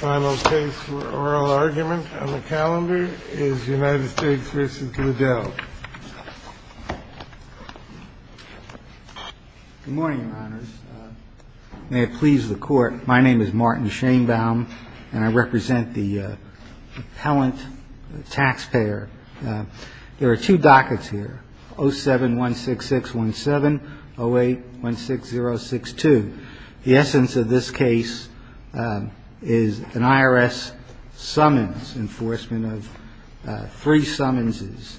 Good morning, your honors. May it please the court, my name is Martin Shainbaum, and I represent the appellant taxpayer. There are two dockets here, 07-16617, 08-16062. The essence of this case is an IRS summons enforcement of three summonses,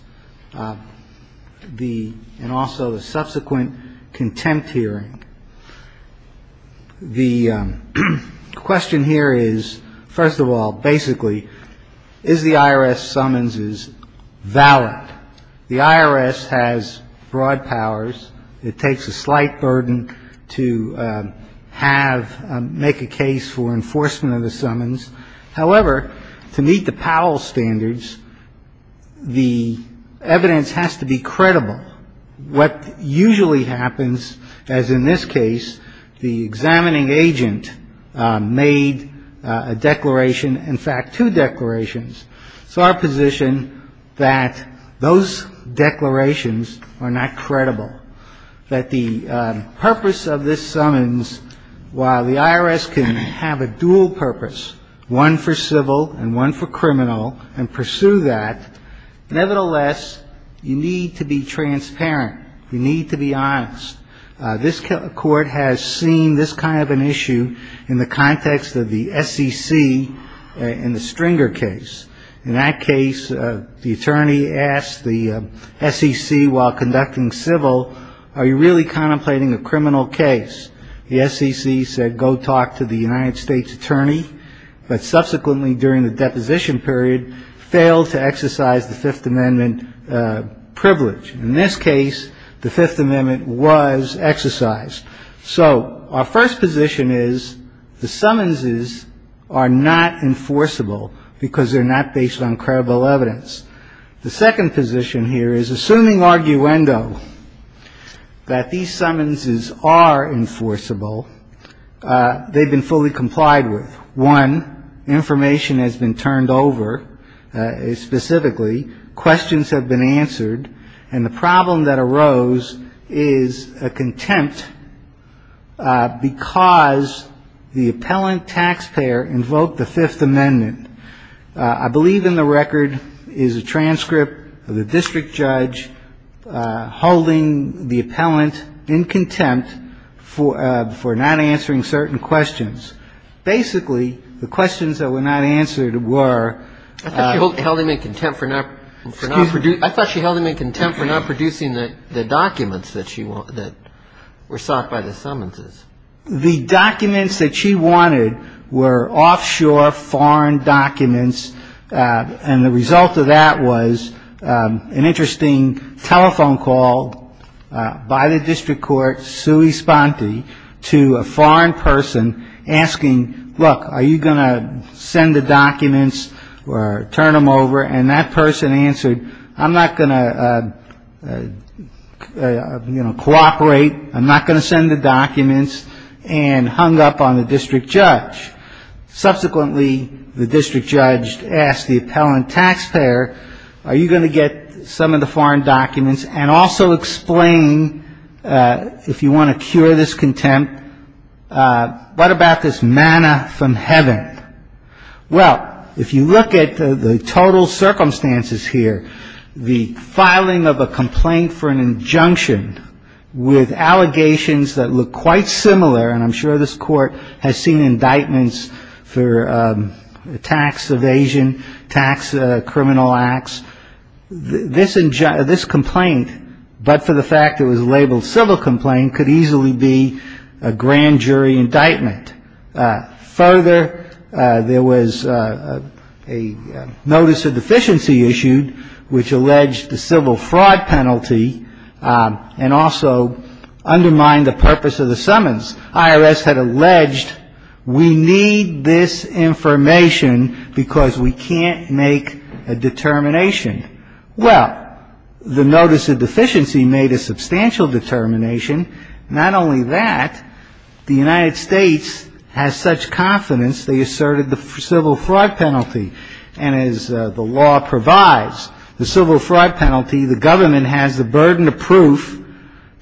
and also a subsequent contempt hearing. The question here is, first of all, basically, is the IRS summonses valid? The IRS has broad powers. It takes a slight burden to have, make a case for enforcement of the summons. However, to meet the Powell standards, the evidence has to be credible. What usually happens, as in this case, the examining agent made a declaration, in fact, two declarations, saw a position that those declarations are not credible, that the purpose of this summons, while the IRS can have a dual purpose, one for civil and one for criminal, and pursue that, nevertheless, you need to be transparent. You need to be honest. This court has seen this kind of an issue in the context of the SEC in the Stringer case. In that case, the attorney asked the SEC, while conducting civil, are you really contemplating a criminal case? The SEC said, go talk to the United States attorney, but subsequently, during the deposition period, failed to exercise the Fifth Amendment privilege. In this case, the Fifth Amendment was exercised. So our first position is the summonses are not enforceable because they're not based on credible evidence. The second position here is, assuming arguendo, that these summonses are enforceable, they've been fully complied with. One, information has been turned over, specifically, questions have been answered, and the problem that arose is a contempt because the appellant taxpayer invoked the Fifth Amendment. I believe in the record is a transcript of the district judge holding the appellant in contempt for not answering certain questions. Basically, the questions that were not answered were ‑‑ And the result of that was an interesting telephone call by the district court, sui sponte, to a foreign person asking, look, are you going to send the documents or turn them over? And that person answered, I'm not going to cooperate, I'm not going to send the documents, and hung up on the district judge. Subsequently, the district judge asked the appellant taxpayer, are you going to get some of the foreign documents and also explain, if you want to cure this contempt, what about this manna from heaven? Well, if you look at the total circumstances here, the filing of a complaint for an injunction with allegations that look quite similar, and I'm sure this court has seen indictments for tax evasion, tax criminal acts, this complaint, but for the fact it was labeled civil complaint, could easily be a grand jury indictment. Further, there was a notice of deficiency issued, which alleged the civil fraud penalty and also undermined the purpose of the summons. IRS had alleged, we need this information because we can't make a determination. Well, the notice of deficiency made a substantial determination. Not only that, the United States has such confidence they asserted the civil fraud penalty, and as the law provides, the civil fraud penalty, the government has the burden of proof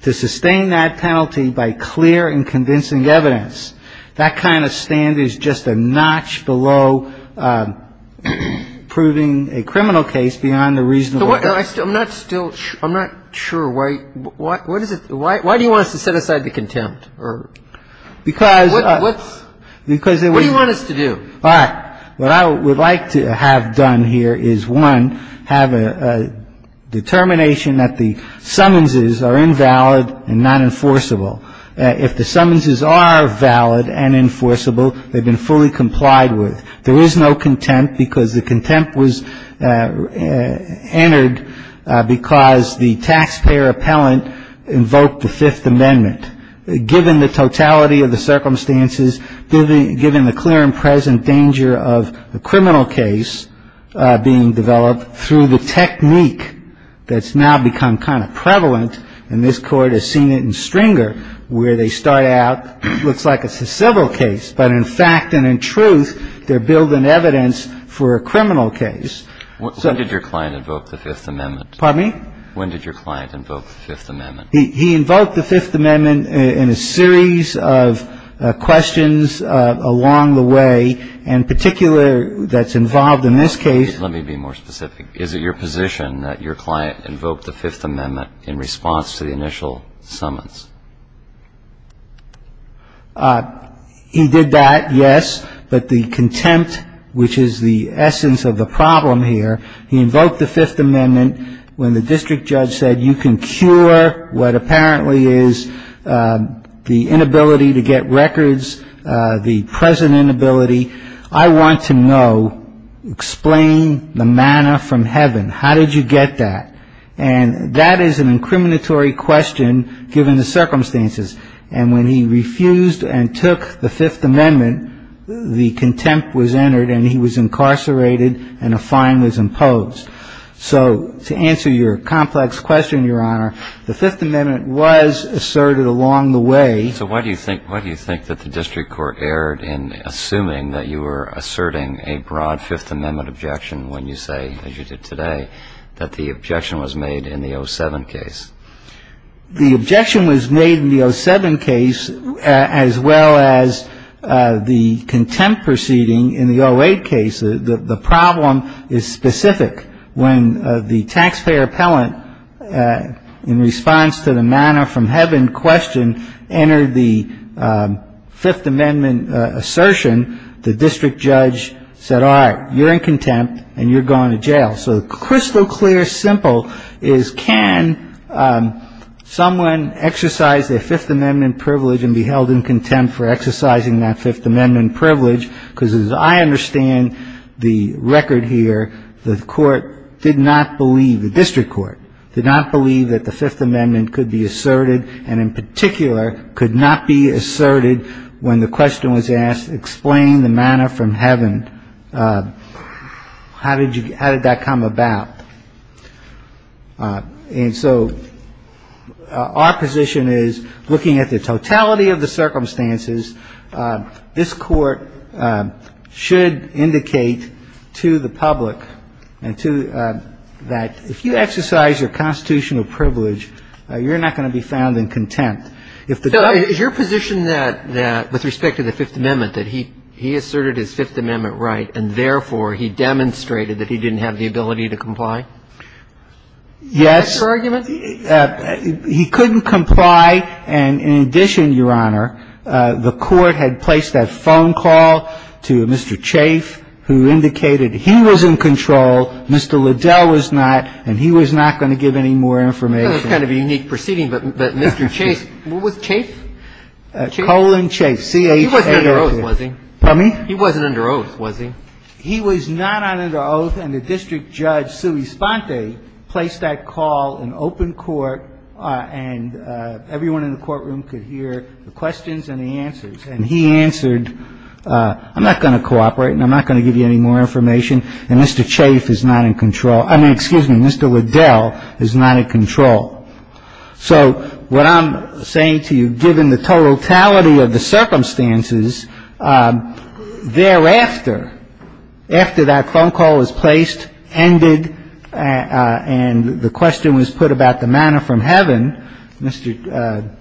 to sustain that penalty by clear and convincing evidence. That kind of stand is just a notch below proving a criminal case beyond a reasonable doubt. I'm not still, I'm not sure why, what is it, why do you want us to set aside the contempt? Because. What do you want us to do? All right. What I would like to have done here is, one, have a determination that the summonses are invalid and not enforceable. If the summonses are valid and enforceable, they've been fully complied with. There is no contempt because the contempt was entered because the taxpayer appellant invoked the Fifth Amendment. Given the totality of the circumstances, given the clear and present danger of a criminal case being developed through the technique that's now become kind of prevalent, and this Court has seen it in Stringer where they start out, looks like it's a civil case, but in fact and in truth, they're building evidence for a criminal case. When did your client invoke the Fifth Amendment? Pardon me? When did your client invoke the Fifth Amendment? He invoked the Fifth Amendment in a series of questions along the way. In particular, that's involved in this case. Let me be more specific. Is it your position that your client invoked the Fifth Amendment in response to the initial summons? He did that, yes. But the contempt, which is the essence of the problem here, he invoked the Fifth Amendment when the district judge said, you can cure what apparently is the inability to get records, the present inability. I want to know, explain the manna from heaven. How did you get that? And that is an incriminatory question given the circumstances. And when he refused and took the Fifth Amendment, the contempt was entered and he was incarcerated and a fine was imposed. So to answer your complex question, Your Honor, the Fifth Amendment was asserted along the way. So why do you think that the district court erred in assuming that you were asserting a broad Fifth Amendment objection when you say, as you did today, that the objection was made in the 07 case? The objection was made in the 07 case as well as the contempt proceeding in the 08 case. The problem is specific. When the taxpayer appellant, in response to the manna from heaven question, entered the Fifth Amendment assertion, the district judge said, all right, you're in contempt and you're going to jail. So crystal clear, simple, is can someone exercise their Fifth Amendment privilege and be held in contempt for exercising that Fifth Amendment privilege? Because as I understand the record here, the court did not believe, the district court, did not believe that the Fifth Amendment could be asserted and, in particular, could not be asserted when the question was asked, explain the manna from heaven. How did that come about? And so our position is, looking at the totality of the circumstances, this Court should indicate to the public and to that, if you exercise your constitutional privilege, you're not going to be found in contempt. If the judge ---- So is your position that, with respect to the Fifth Amendment, that he asserted his Fifth Amendment right and, therefore, he demonstrated that he didn't have the ability to comply? Yes. Is that your argument? He couldn't comply. And in addition, Your Honor, the court had placed that phone call to Mr. Chafe, who indicated he was in control, Mr. Liddell was not, and he was not going to give any more information. That's kind of a unique proceeding, but Mr. Chafe ---- Chafe? Colin Chafe, C-H-A-F-E. He wasn't under oath, was he? Pardon me? He wasn't under oath, was he? He was not under oath, and the district judge, Sui Sponte, placed that call in open court, and everyone in the courtroom could hear the questions and the answers. And he answered, I'm not going to cooperate and I'm not going to give you any more information, and Mr. Chafe is not in control. I mean, excuse me, Mr. Liddell is not in control. So what I'm saying to you, given the totality of the circumstances, thereafter, after that phone call was placed, ended, and the question was put about the manor from heaven, Mr.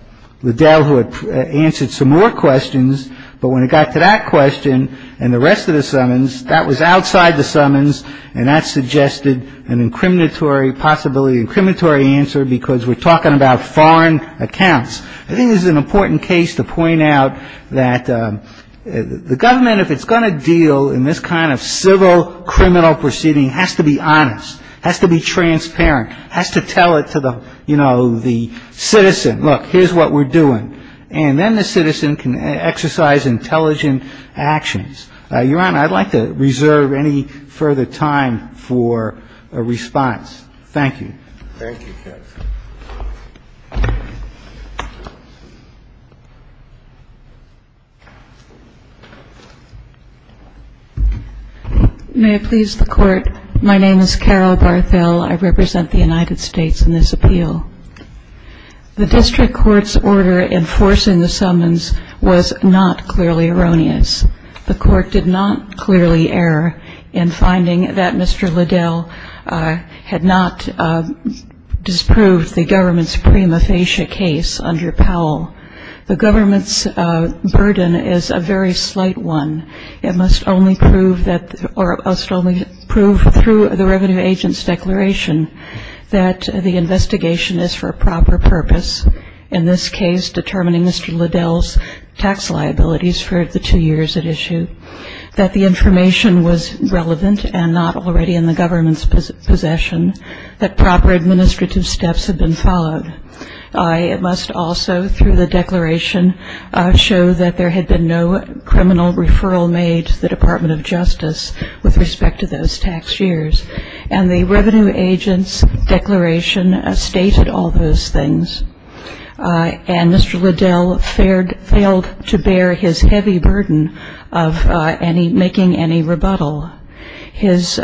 Liddell would answer some more questions, but when it got to that question and the rest of the summons, that was outside the summons, and that suggested an incriminatory possibility, an incriminatory answer, because we're talking about foreign accounts. I think this is an important case to point out that the government, if it's going to deal in this kind of civil criminal proceeding, has to be honest, has to be transparent, has to tell it to the, you know, the citizen, look, here's what we're doing. And then the citizen can exercise intelligent actions. Your Honor, I'd like to reserve any further time for a response. Thank you. Thank you, counsel. May it please the Court. My name is Carol Barthel. I represent the United States in this appeal. The district court's order enforcing the summons was not clearly erroneous. The court did not clearly err in finding that Mr. Liddell had not disproved the government's prima facie case under Powell. The government's burden is a very slight one. It must only prove through the revenue agent's declaration that the investigation is for a proper purpose, in this case determining Mr. Liddell's tax liabilities for the two years at issue, that the information was relevant and not already in the government's possession, that proper administrative steps had been followed. It must also, through the declaration, show that there had been no criminal referral made to the Department of Justice with respect to those tax years. And the revenue agent's declaration stated all those things. And Mr. Liddell failed to bear his heavy burden of making any rebuttal. As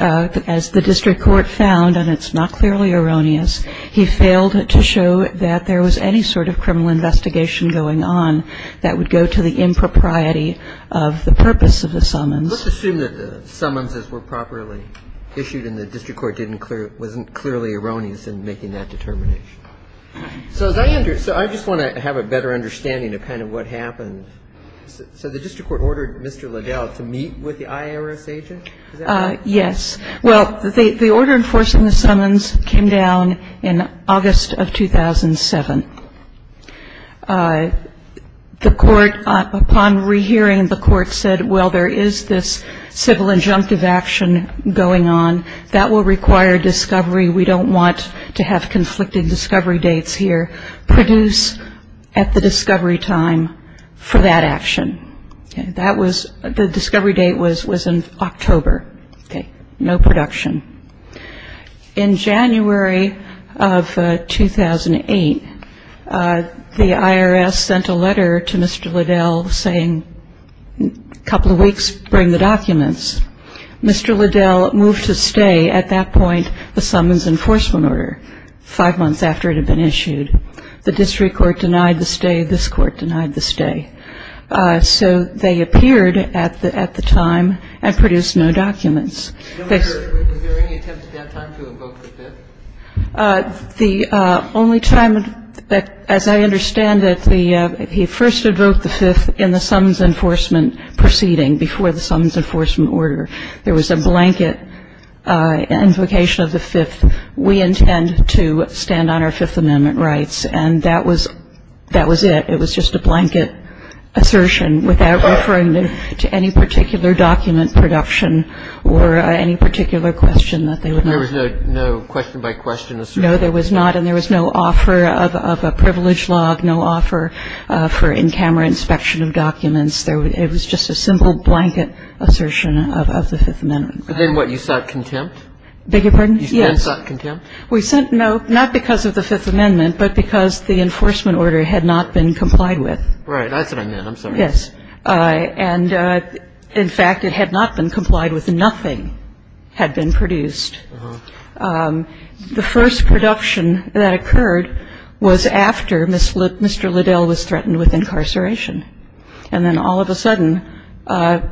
the district court found, and it's not clearly erroneous, he failed to show that there was any sort of criminal investigation going on that would go to the impropriety of the purpose of the summons. Let's assume that the summonses were properly issued and the district court wasn't clearly erroneous in making that determination. So I just want to have a better understanding of kind of what happened. So the district court ordered Mr. Liddell to meet with the IRS agent? Yes. Well, the order enforcing the summons came down in August of 2007. The court, upon rehearing, the court said, well, there is this civil injunctive action going on. That will require discovery. We don't want to have conflicted discovery dates here. Produce at the discovery time for that action. The discovery date was in October. Okay. No production. In January of 2008, the IRS sent a letter to Mr. Liddell saying a couple of weeks, bring the documents. Mr. Liddell moved to stay at that point the summons enforcement order five months after it had been issued. The district court denied the stay. This court denied the stay. So they appeared at the time and produced no documents. Was there any attempt at that time to invoke the fifth? The only time, as I understand it, he first invoked the fifth in the summons enforcement proceeding before the summons enforcement order. There was a blanket invocation of the fifth. We intend to stand on our Fifth Amendment rights. And that was it. I would say that it was just a blanket assertion without referring to any particular document production or any particular question that they would make. There was no question by question assertion? No, there was not. And there was no offer of a privilege log, no offer for in camera inspection of documents. It was just a simple blanket assertion of the Fifth Amendment. And then what? You sought contempt? Beg your pardon? Yes. You then sought contempt? Not because of the Fifth Amendment, but because the enforcement order had not been complied with. Right. That's what I meant. I'm sorry. Yes. And, in fact, it had not been complied with. Nothing had been produced. The first production that occurred was after Mr. Liddell was threatened with incarceration. And then all of a sudden,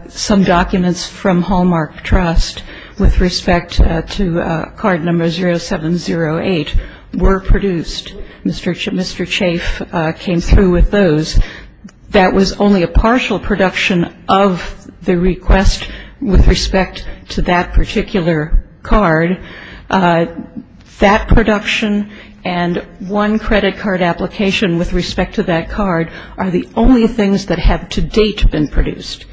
some documents from Hallmark Trust with respect to card number 0708 were produced. Mr. Chafe came through with those. That was only a partial production of the request with respect to that particular card. That production and one credit card application with respect to that card are the only things that have to date been produced.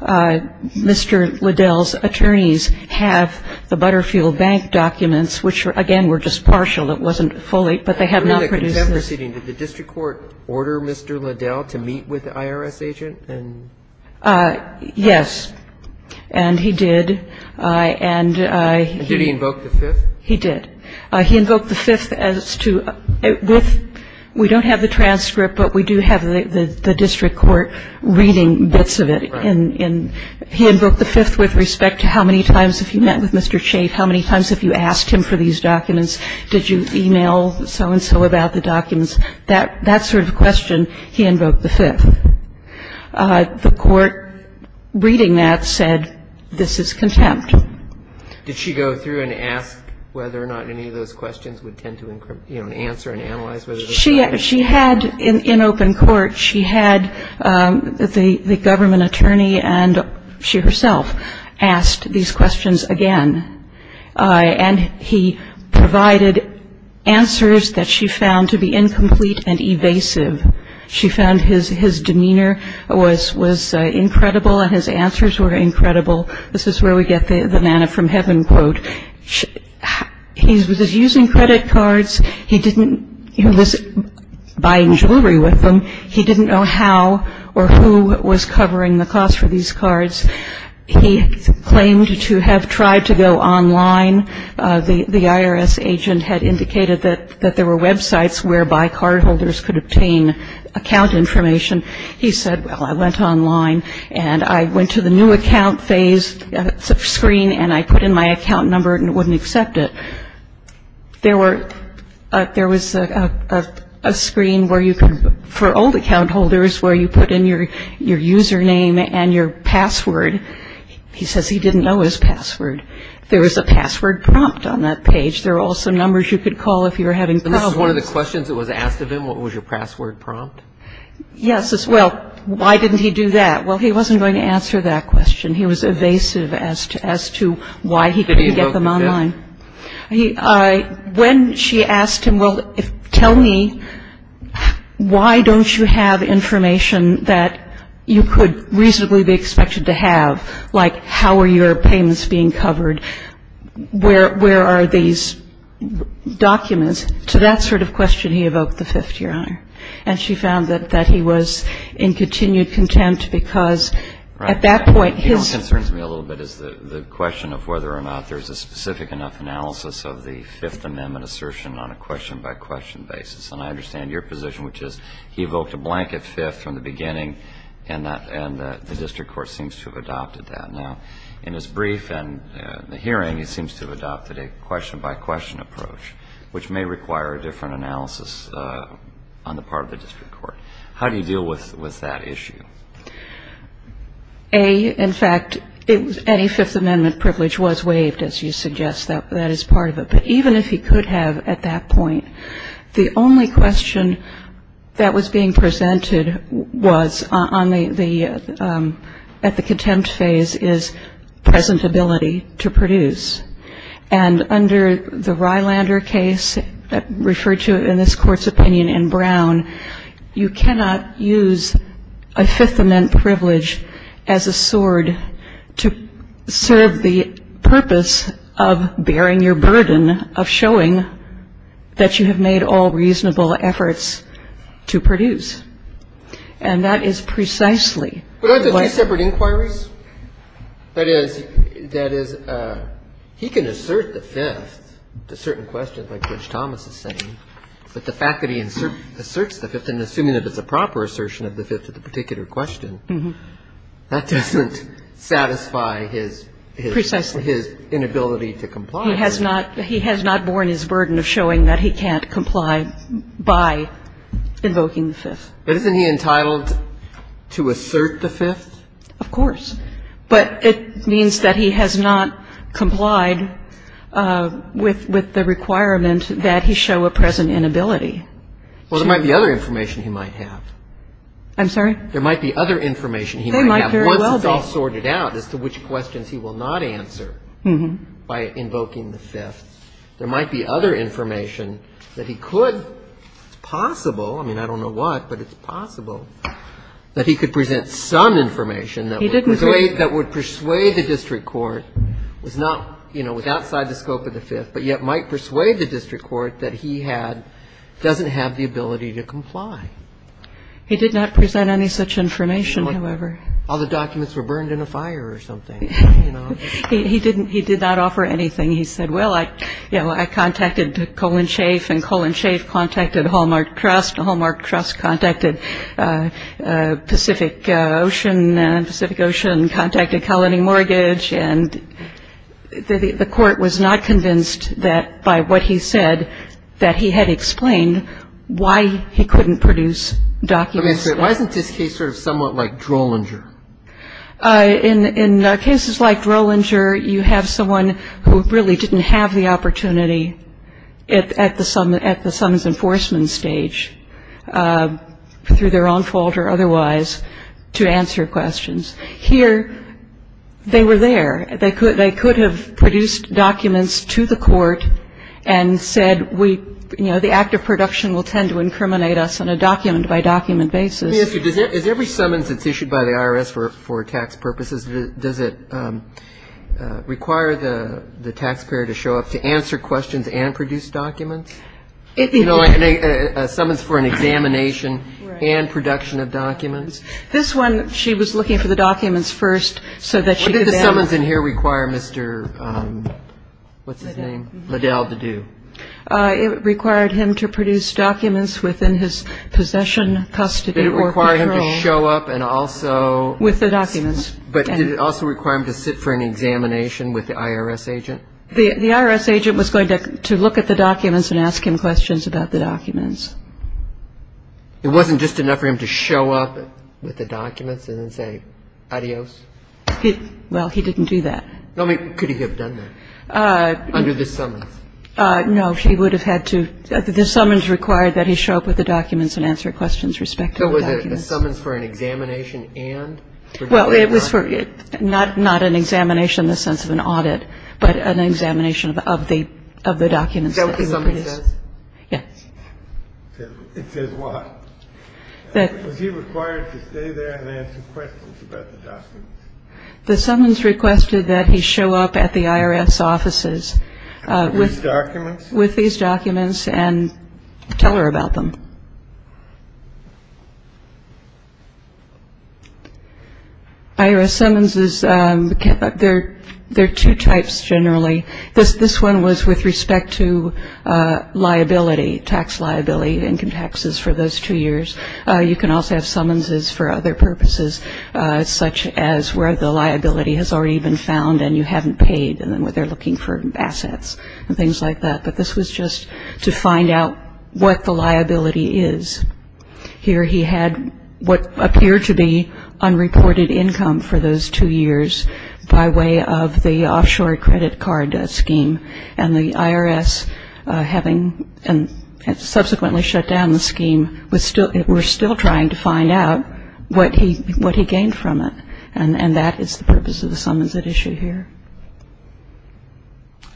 Mr. Liddell's attorneys have the Butterfield Bank documents, which, again, were just partial. It wasn't fully. But they have not produced this. Did the district court order Mr. Liddell to meet with the IRS agent? Yes. And he did. And did he invoke the Fifth? He did. He invoked the Fifth as to if we don't have the transcript, but we do have the district court reading bits of it. Right. He invoked the Fifth with respect to how many times have you met with Mr. Chafe, how many times have you asked him for these documents, did you e-mail so-and-so about the documents. That sort of question, he invoked the Fifth. The court reading that said, this is contempt. Did she go through and ask whether or not any of those questions would tend to answer and analyze whether this is? She had, in open court, she had the government attorney and she herself asked these questions again. And he provided answers that she found to be incomplete and evasive. She found his demeanor was incredible and his answers were incredible. This is where we get the manna from heaven quote. He was using credit cards. He didn't buy jewelry with them. He didn't know how or who was covering the cost for these cards. He claimed to have tried to go online. The IRS agent had indicated that there were websites whereby cardholders could obtain account information. He said, well, I went online and I went to the new account phase screen and I put in my account number and it wouldn't accept it. There was a screen for old account holders where you put in your user name and your password. He says he didn't know his password. There was a password prompt on that page. There were also numbers you could call if you were having problems. So this is one of the questions that was asked of him? What was your password prompt? Yes. Well, why didn't he do that? Well, he wasn't going to answer that question. He was evasive as to why he couldn't get them online. When she asked him, well, tell me why don't you have information that you could reasonably be expected to have, like how are your payments being covered, where are these documents, to that sort of question he evoked the Fifth, Your Honor. And she found that he was in continued contempt because at that point his ---- Right. What concerns me a little bit is the question of whether or not there's a specific enough analysis of the Fifth Amendment assertion on a question-by-question basis. And I understand your position, which is he evoked a blanket Fifth from the beginning and the district court seems to have adopted that. Now, in his brief and the hearing, he seems to have adopted a question-by-question approach, which may require a different analysis on the part of the district court. How do you deal with that issue? A, in fact, any Fifth Amendment privilege was waived, as you suggest. That is part of it. But even if he could have at that point, the only question that was being presented was on the ---- at the contempt phase is presentability to produce. And under the Rylander case referred to in this Court's opinion in Brown, you cannot use a Fifth Amendment privilege as a sword to serve the purpose of bearing your burden, of showing that you have made all reasonable efforts to produce. And that is precisely what ---- But aren't there two separate inquiries? That is, he can assert the Fifth to certain questions, like Judge Thomas is saying, but the fact that he asserts the Fifth and assuming that it's a proper assertion of the Fifth to the particular question, that doesn't satisfy his ---- Precisely. His inability to comply. He has not borne his burden of showing that he can't comply by invoking the Fifth. But isn't he entitled to assert the Fifth? Of course. But it means that he has not complied with the requirement that he show a present inability. Well, there might be other information he might have. I'm sorry? There might be other information he might have. They might very well be. Once it's all sorted out as to which questions he will not answer by invoking the Fifth, there might be other information that he could ---- It's possible. I mean, I don't know what, but it's possible that he could present some information that would persuade the district court, was outside the scope of the Fifth, but yet might persuade the district court that he doesn't have the ability to comply. He did not present any such information, however. All the documents were burned in a fire or something. He did not offer anything. He said, well, I contacted Colin Schaaf, and Colin Schaaf contacted Hallmark Trust, and Hallmark Trust contacted Pacific Ocean, and Pacific Ocean contacted Colony Mortgage. And the court was not convinced that by what he said that he had explained why he couldn't produce documents. Why isn't this case sort of somewhat like Drollinger? In cases like Drollinger, you have someone who really didn't have the opportunity at the summons enforcement stage, through their own fault or otherwise, to answer questions. Here, they were there. They could have produced documents to the court and said, you know, the act of production will tend to incriminate us on a document-by-document basis. Let me ask you, is every summons that's issued by the IRS for tax purposes, does it require the taxpayer to show up to answer questions and produce documents? You know, a summons for an examination and production of documents? This one, she was looking for the documents first so that she could then ---- What did the summons in here require Mr. ---- what's his name? Liddell. Liddell to do? It required him to produce documents within his possession, custody or control. Did it require him to show up and also ---- With the documents. But did it also require him to sit for an examination with the IRS agent? The IRS agent was going to look at the documents and ask him questions about the documents. It wasn't just enough for him to show up with the documents and then say adios? Well, he didn't do that. Could he have done that under the summons? No. He would have had to ---- the summons required that he show up with the documents and answer questions with respect to the documents. So was it a summons for an examination and ---- Well, it was for not an examination in the sense of an audit, but an examination of the documents. Is that what the summons says? Yes. It says what? Was he required to stay there and answer questions about the documents? The summons requested that he show up at the IRS offices with the documents. With these documents? With these documents and tell her about them. IRS summonses, there are two types generally. This one was with respect to liability, tax liability, income taxes for those two years. You can also have summonses for other purposes, such as where the liability has already been found and you haven't paid and where they're looking for assets and things like that. But this was just to find out what the liability is. Here he had what appeared to be unreported income for those two years by way of the offshore credit card scheme. And the IRS, having subsequently shut down the scheme, were still trying to find out what he gained from it. And that is the purpose of the summons at issue here.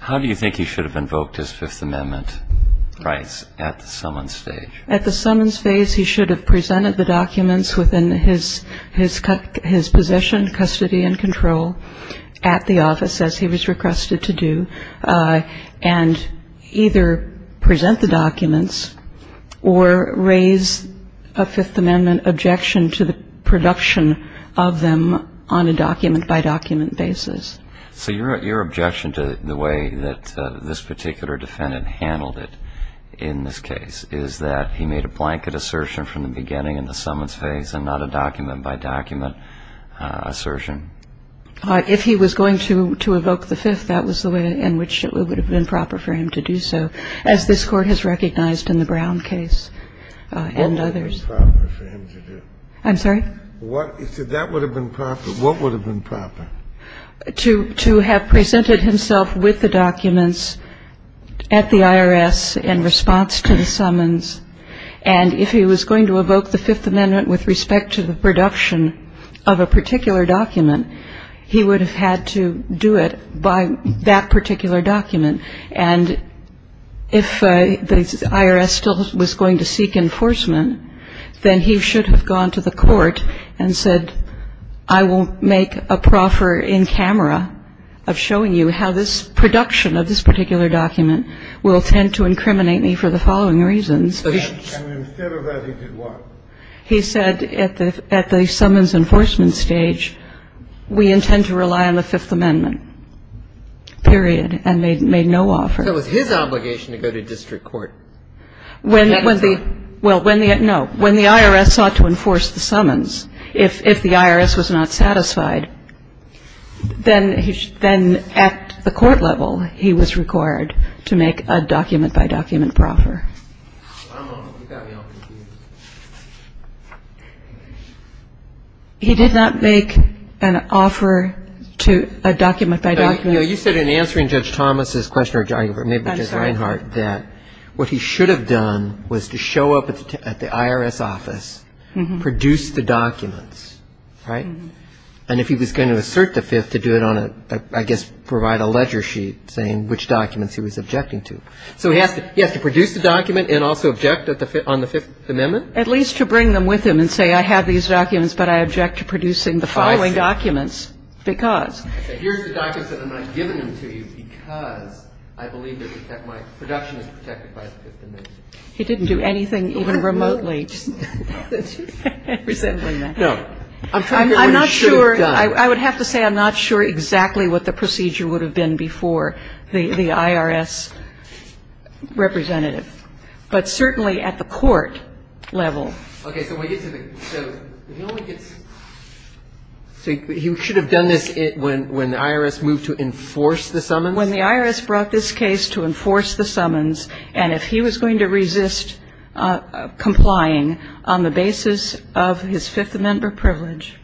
How do you think he should have invoked his Fifth Amendment rights at the summons stage? At the summons phase, he should have presented the documents within his position, custody and control at the office, as he was requested to do, and either present the documents or raise a Fifth Amendment objection to the production of them on a document-by-document basis. So your objection to the way that this particular defendant handled it in this case is that he made a blanket assertion from the beginning in the summons phase and not a document-by-document assertion? If he was going to evoke the Fifth, that was the way in which it would have been proper for him to do so, as this Court has recognized in the Brown case and others. What would have been proper for him to do? I'm sorry? You said that would have been proper. What would have been proper? To have presented himself with the documents at the IRS in response to the summons. And if he was going to evoke the Fifth Amendment with respect to the production of a particular document, he would have had to do it by that particular document. And if the IRS still was going to seek enforcement, then he should have gone to the Court and said, I will make a proffer in camera of showing you how this production of this particular document will tend to incriminate me for the following reasons. And instead of that, he did what? He said at the summons enforcement stage, we intend to rely on the Fifth Amendment, period, and made no offer. That was his obligation to go to district court. Well, no. When the IRS sought to enforce the summons, if the IRS was not satisfied, then at the court level, he was required to make a document-by-document proffer. He did not make an offer to a document-by-document. You said in answering Judge Thomas' question, or maybe Judge Reinhart, that what he should have done was to show up at the IRS office, produce the documents, right? And if he was going to assert the Fifth, to do it on a, I guess, provide a ledger sheet saying which documents he was objecting to. So he has to produce the documents. He has to produce the document and also object on the Fifth Amendment? At least to bring them with him and say I have these documents, but I object to producing the following documents because. Here's the documents that I'm not giving them to you because I believe that my production is protected by the Fifth Amendment. He didn't do anything even remotely resembling that. No. I'm trying to figure out what he should have done. I'm not sure. I would have to say I'm not sure exactly what the procedure would have been before the IRS representative. But certainly at the court level. Okay. So he should have done this when the IRS moved to enforce the summons? When the IRS brought this case to enforce the summons, and if he was going to resist complying on the basis of his Fifth Amendment privilege,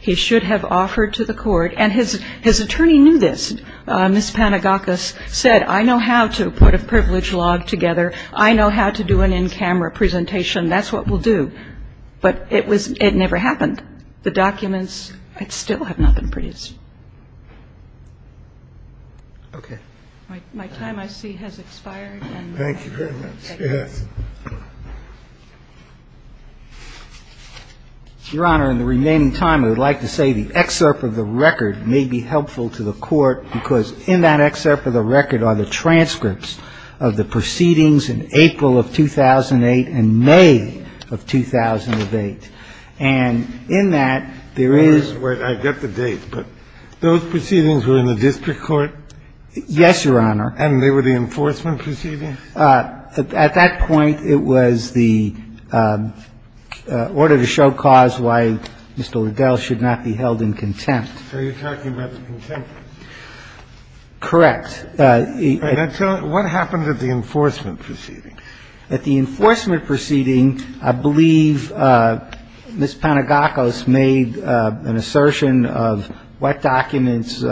he should have offered to the court, and his attorney knew this. Ms. Panagakos said I know how to put a privilege log together. I know how to do an in-camera presentation. That's what we'll do. But it never happened. The documents still have not been produced. Okay. My time, I see, has expired. Thank you very much. Yes. Your Honor, in the remaining time, I would like to say the excerpt of the record may be helpful to the Court, because in that excerpt of the record are the transcripts of the proceedings in April of 2008 and May of 2008. And in that, there is where I get the date, but those proceedings were in the district court? Yes, Your Honor. And they were the enforcement proceedings? Yes. At that point, it was the order to show cause why Mr. Liddell should not be held in contempt. So you're talking about the contempt case? Correct. And what happened at the enforcement proceedings? At the enforcement proceedings, I believe Ms. Panagakos made an assertion of what documents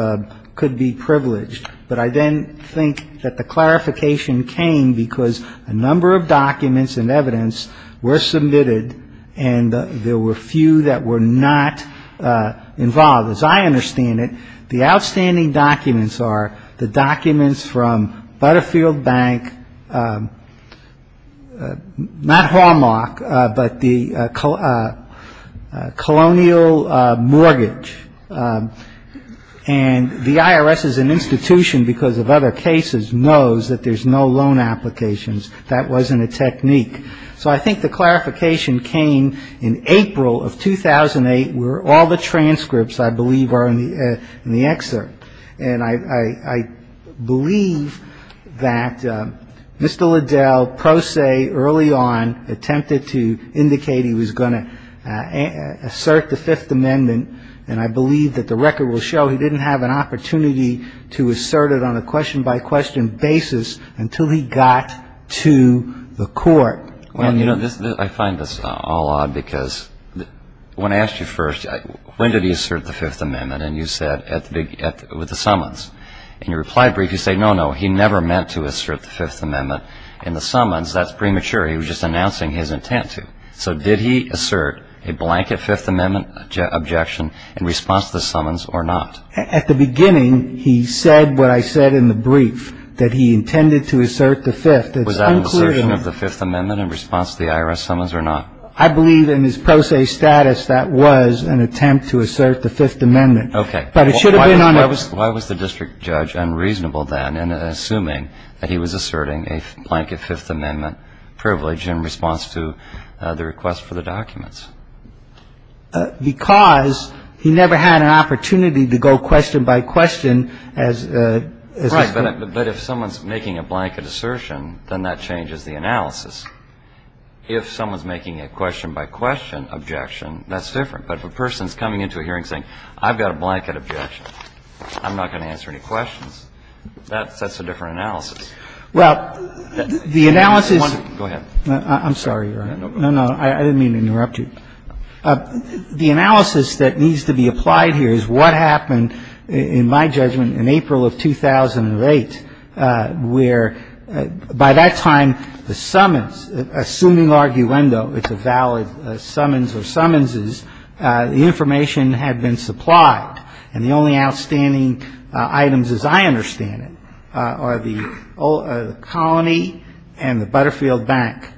could be privileged, but I then think that the clarification came because a number of documents and evidence were submitted, and there were few that were not involved. As I understand it, the outstanding documents are the documents from Butterfield Bank, not Hallmark, but the Colonial Mortgage. And the IRS as an institution, because of other cases, knows that there's no loan applications. That wasn't a technique. So I think the clarification came in April of 2008, where all the transcripts, I believe, are in the excerpt. And I believe that Mr. Liddell, pro se, early on, attempted to indicate he was going to assert the Fifth Amendment, and I believe that the record will show he didn't have an opportunity to assert it on a question-by-question basis until he got to the court. Well, you know, I find this all odd, because when I asked you first, when did he assert the Fifth Amendment, and you said with the summons. In your reply brief, you say, no, no, he never meant to assert the Fifth Amendment in the summons. That's premature. He was just announcing his intent to. So did he assert a blanket Fifth Amendment objection in response to the summons or not? At the beginning, he said what I said in the brief, that he intended to assert the Fifth. Was that an assertion of the Fifth Amendment in response to the IRS summons or not? I believe in his pro se status, that was an attempt to assert the Fifth Amendment. Okay. But it should have been on a question. Why was the district judge unreasonable then in assuming that he was asserting a blanket Fifth Amendment privilege in response to the request for the documents? Because he never had an opportunity to go question-by-question as a... Right. Well, the analysis... Go ahead. I'm sorry. No, no. I didn't mean to interrupt you. The analysis that needs to be applied here is what happened, in my judgment, in April of 2008, where by that time, the summons had already been issued. Assuming arguendo, it's a valid summons or summonses, the information had been supplied. And the only outstanding items, as I understand it, are the colony and the Butterfield Bank.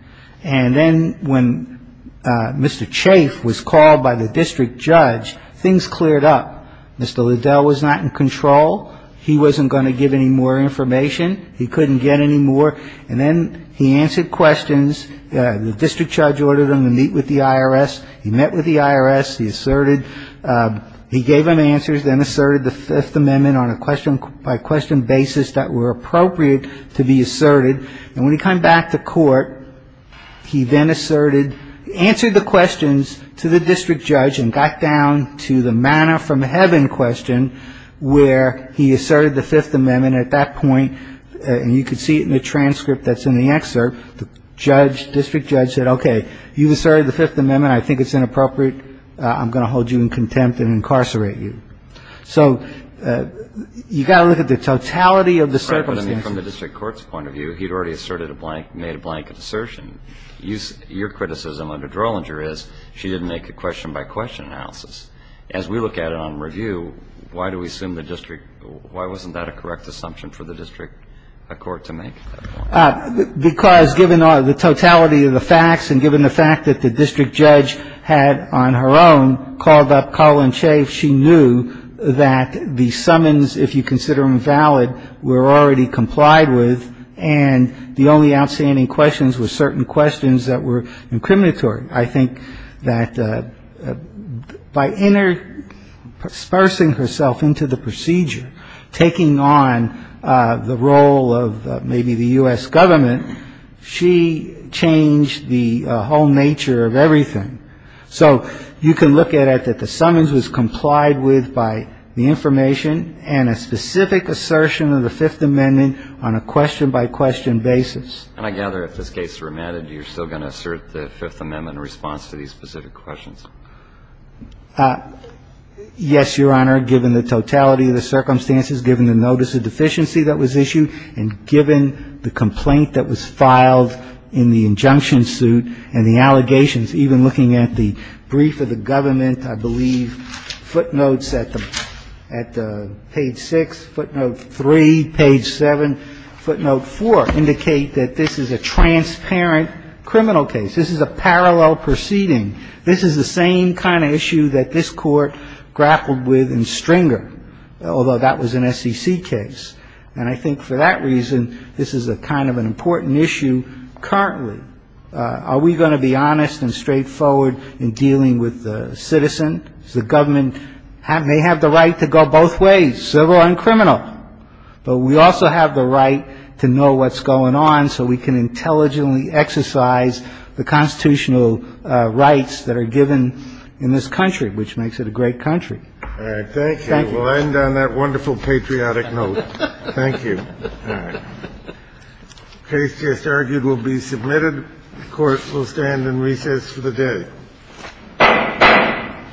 And then when Mr. Chafe was called by the district judge, things cleared up. Mr. Liddell was not in control. He wasn't going to give any more information. He couldn't get any more. And then he answered questions. The district judge ordered him to meet with the IRS. He met with the IRS. He asserted... he gave them answers, then asserted the Fifth Amendment on a question-by-question basis that were appropriate to be asserted. And when he came back to court, he then asserted, answered the questions to the district judge and got down to the manner-from-heaven question, where he asserted the Fifth Amendment. And then at that point, and you can see it in the transcript that's in the excerpt, the judge, district judge said, okay, you asserted the Fifth Amendment. I think it's inappropriate. I'm going to hold you in contempt and incarcerate you. So you've got to look at the totality of the circumstances. Right, but I mean, from the district court's point of view, he'd already asserted a blank, made a blank assertion. Your criticism under Drollinger is she didn't make a question-by-question analysis. As we look at it on review, why do we assume the district – why wasn't that a correct assumption for the district court to make? Because given the totality of the facts and given the fact that the district judge had, on her own, called up Colin Chafe, she knew that the summons, if you consider them valid, were already complied with, and the only outstanding questions were certain questions that were incriminatory. I think that by interspersing herself into the procedure, taking on the role of maybe the U.S. government, she changed the whole nature of everything. So you can look at it that the summons was complied with by the information and a specific assertion of the Fifth Amendment on a question-by-question basis. And I gather, if this case is remanded, you're still going to assert the Fifth Amendment in response to these specific questions. Yes, Your Honor, given the totality of the circumstances, given the notice of deficiency that was issued, and given the complaint that was filed in the injunction suit and the allegations, even looking at the brief of the government, I believe footnotes at the page 6, footnote 3, page 7, footnote 4 indicate that this is a transparent criminal case. This is a parallel proceeding. This is the same kind of issue that this Court grappled with in Stringer, although that was an SEC case. And I think for that reason, this is a kind of an important issue currently. Are we going to be honest and straightforward in dealing with the citizen? The government may have the right to go both ways, civil and criminal. But we also have the right to know what's going on so we can intelligently exercise the constitutional rights that are given in this country, which makes it a great country. Thank you. We'll end on that wonderful patriotic note. Thank you. The case just argued will be submitted. The Court will stand in recess for the day.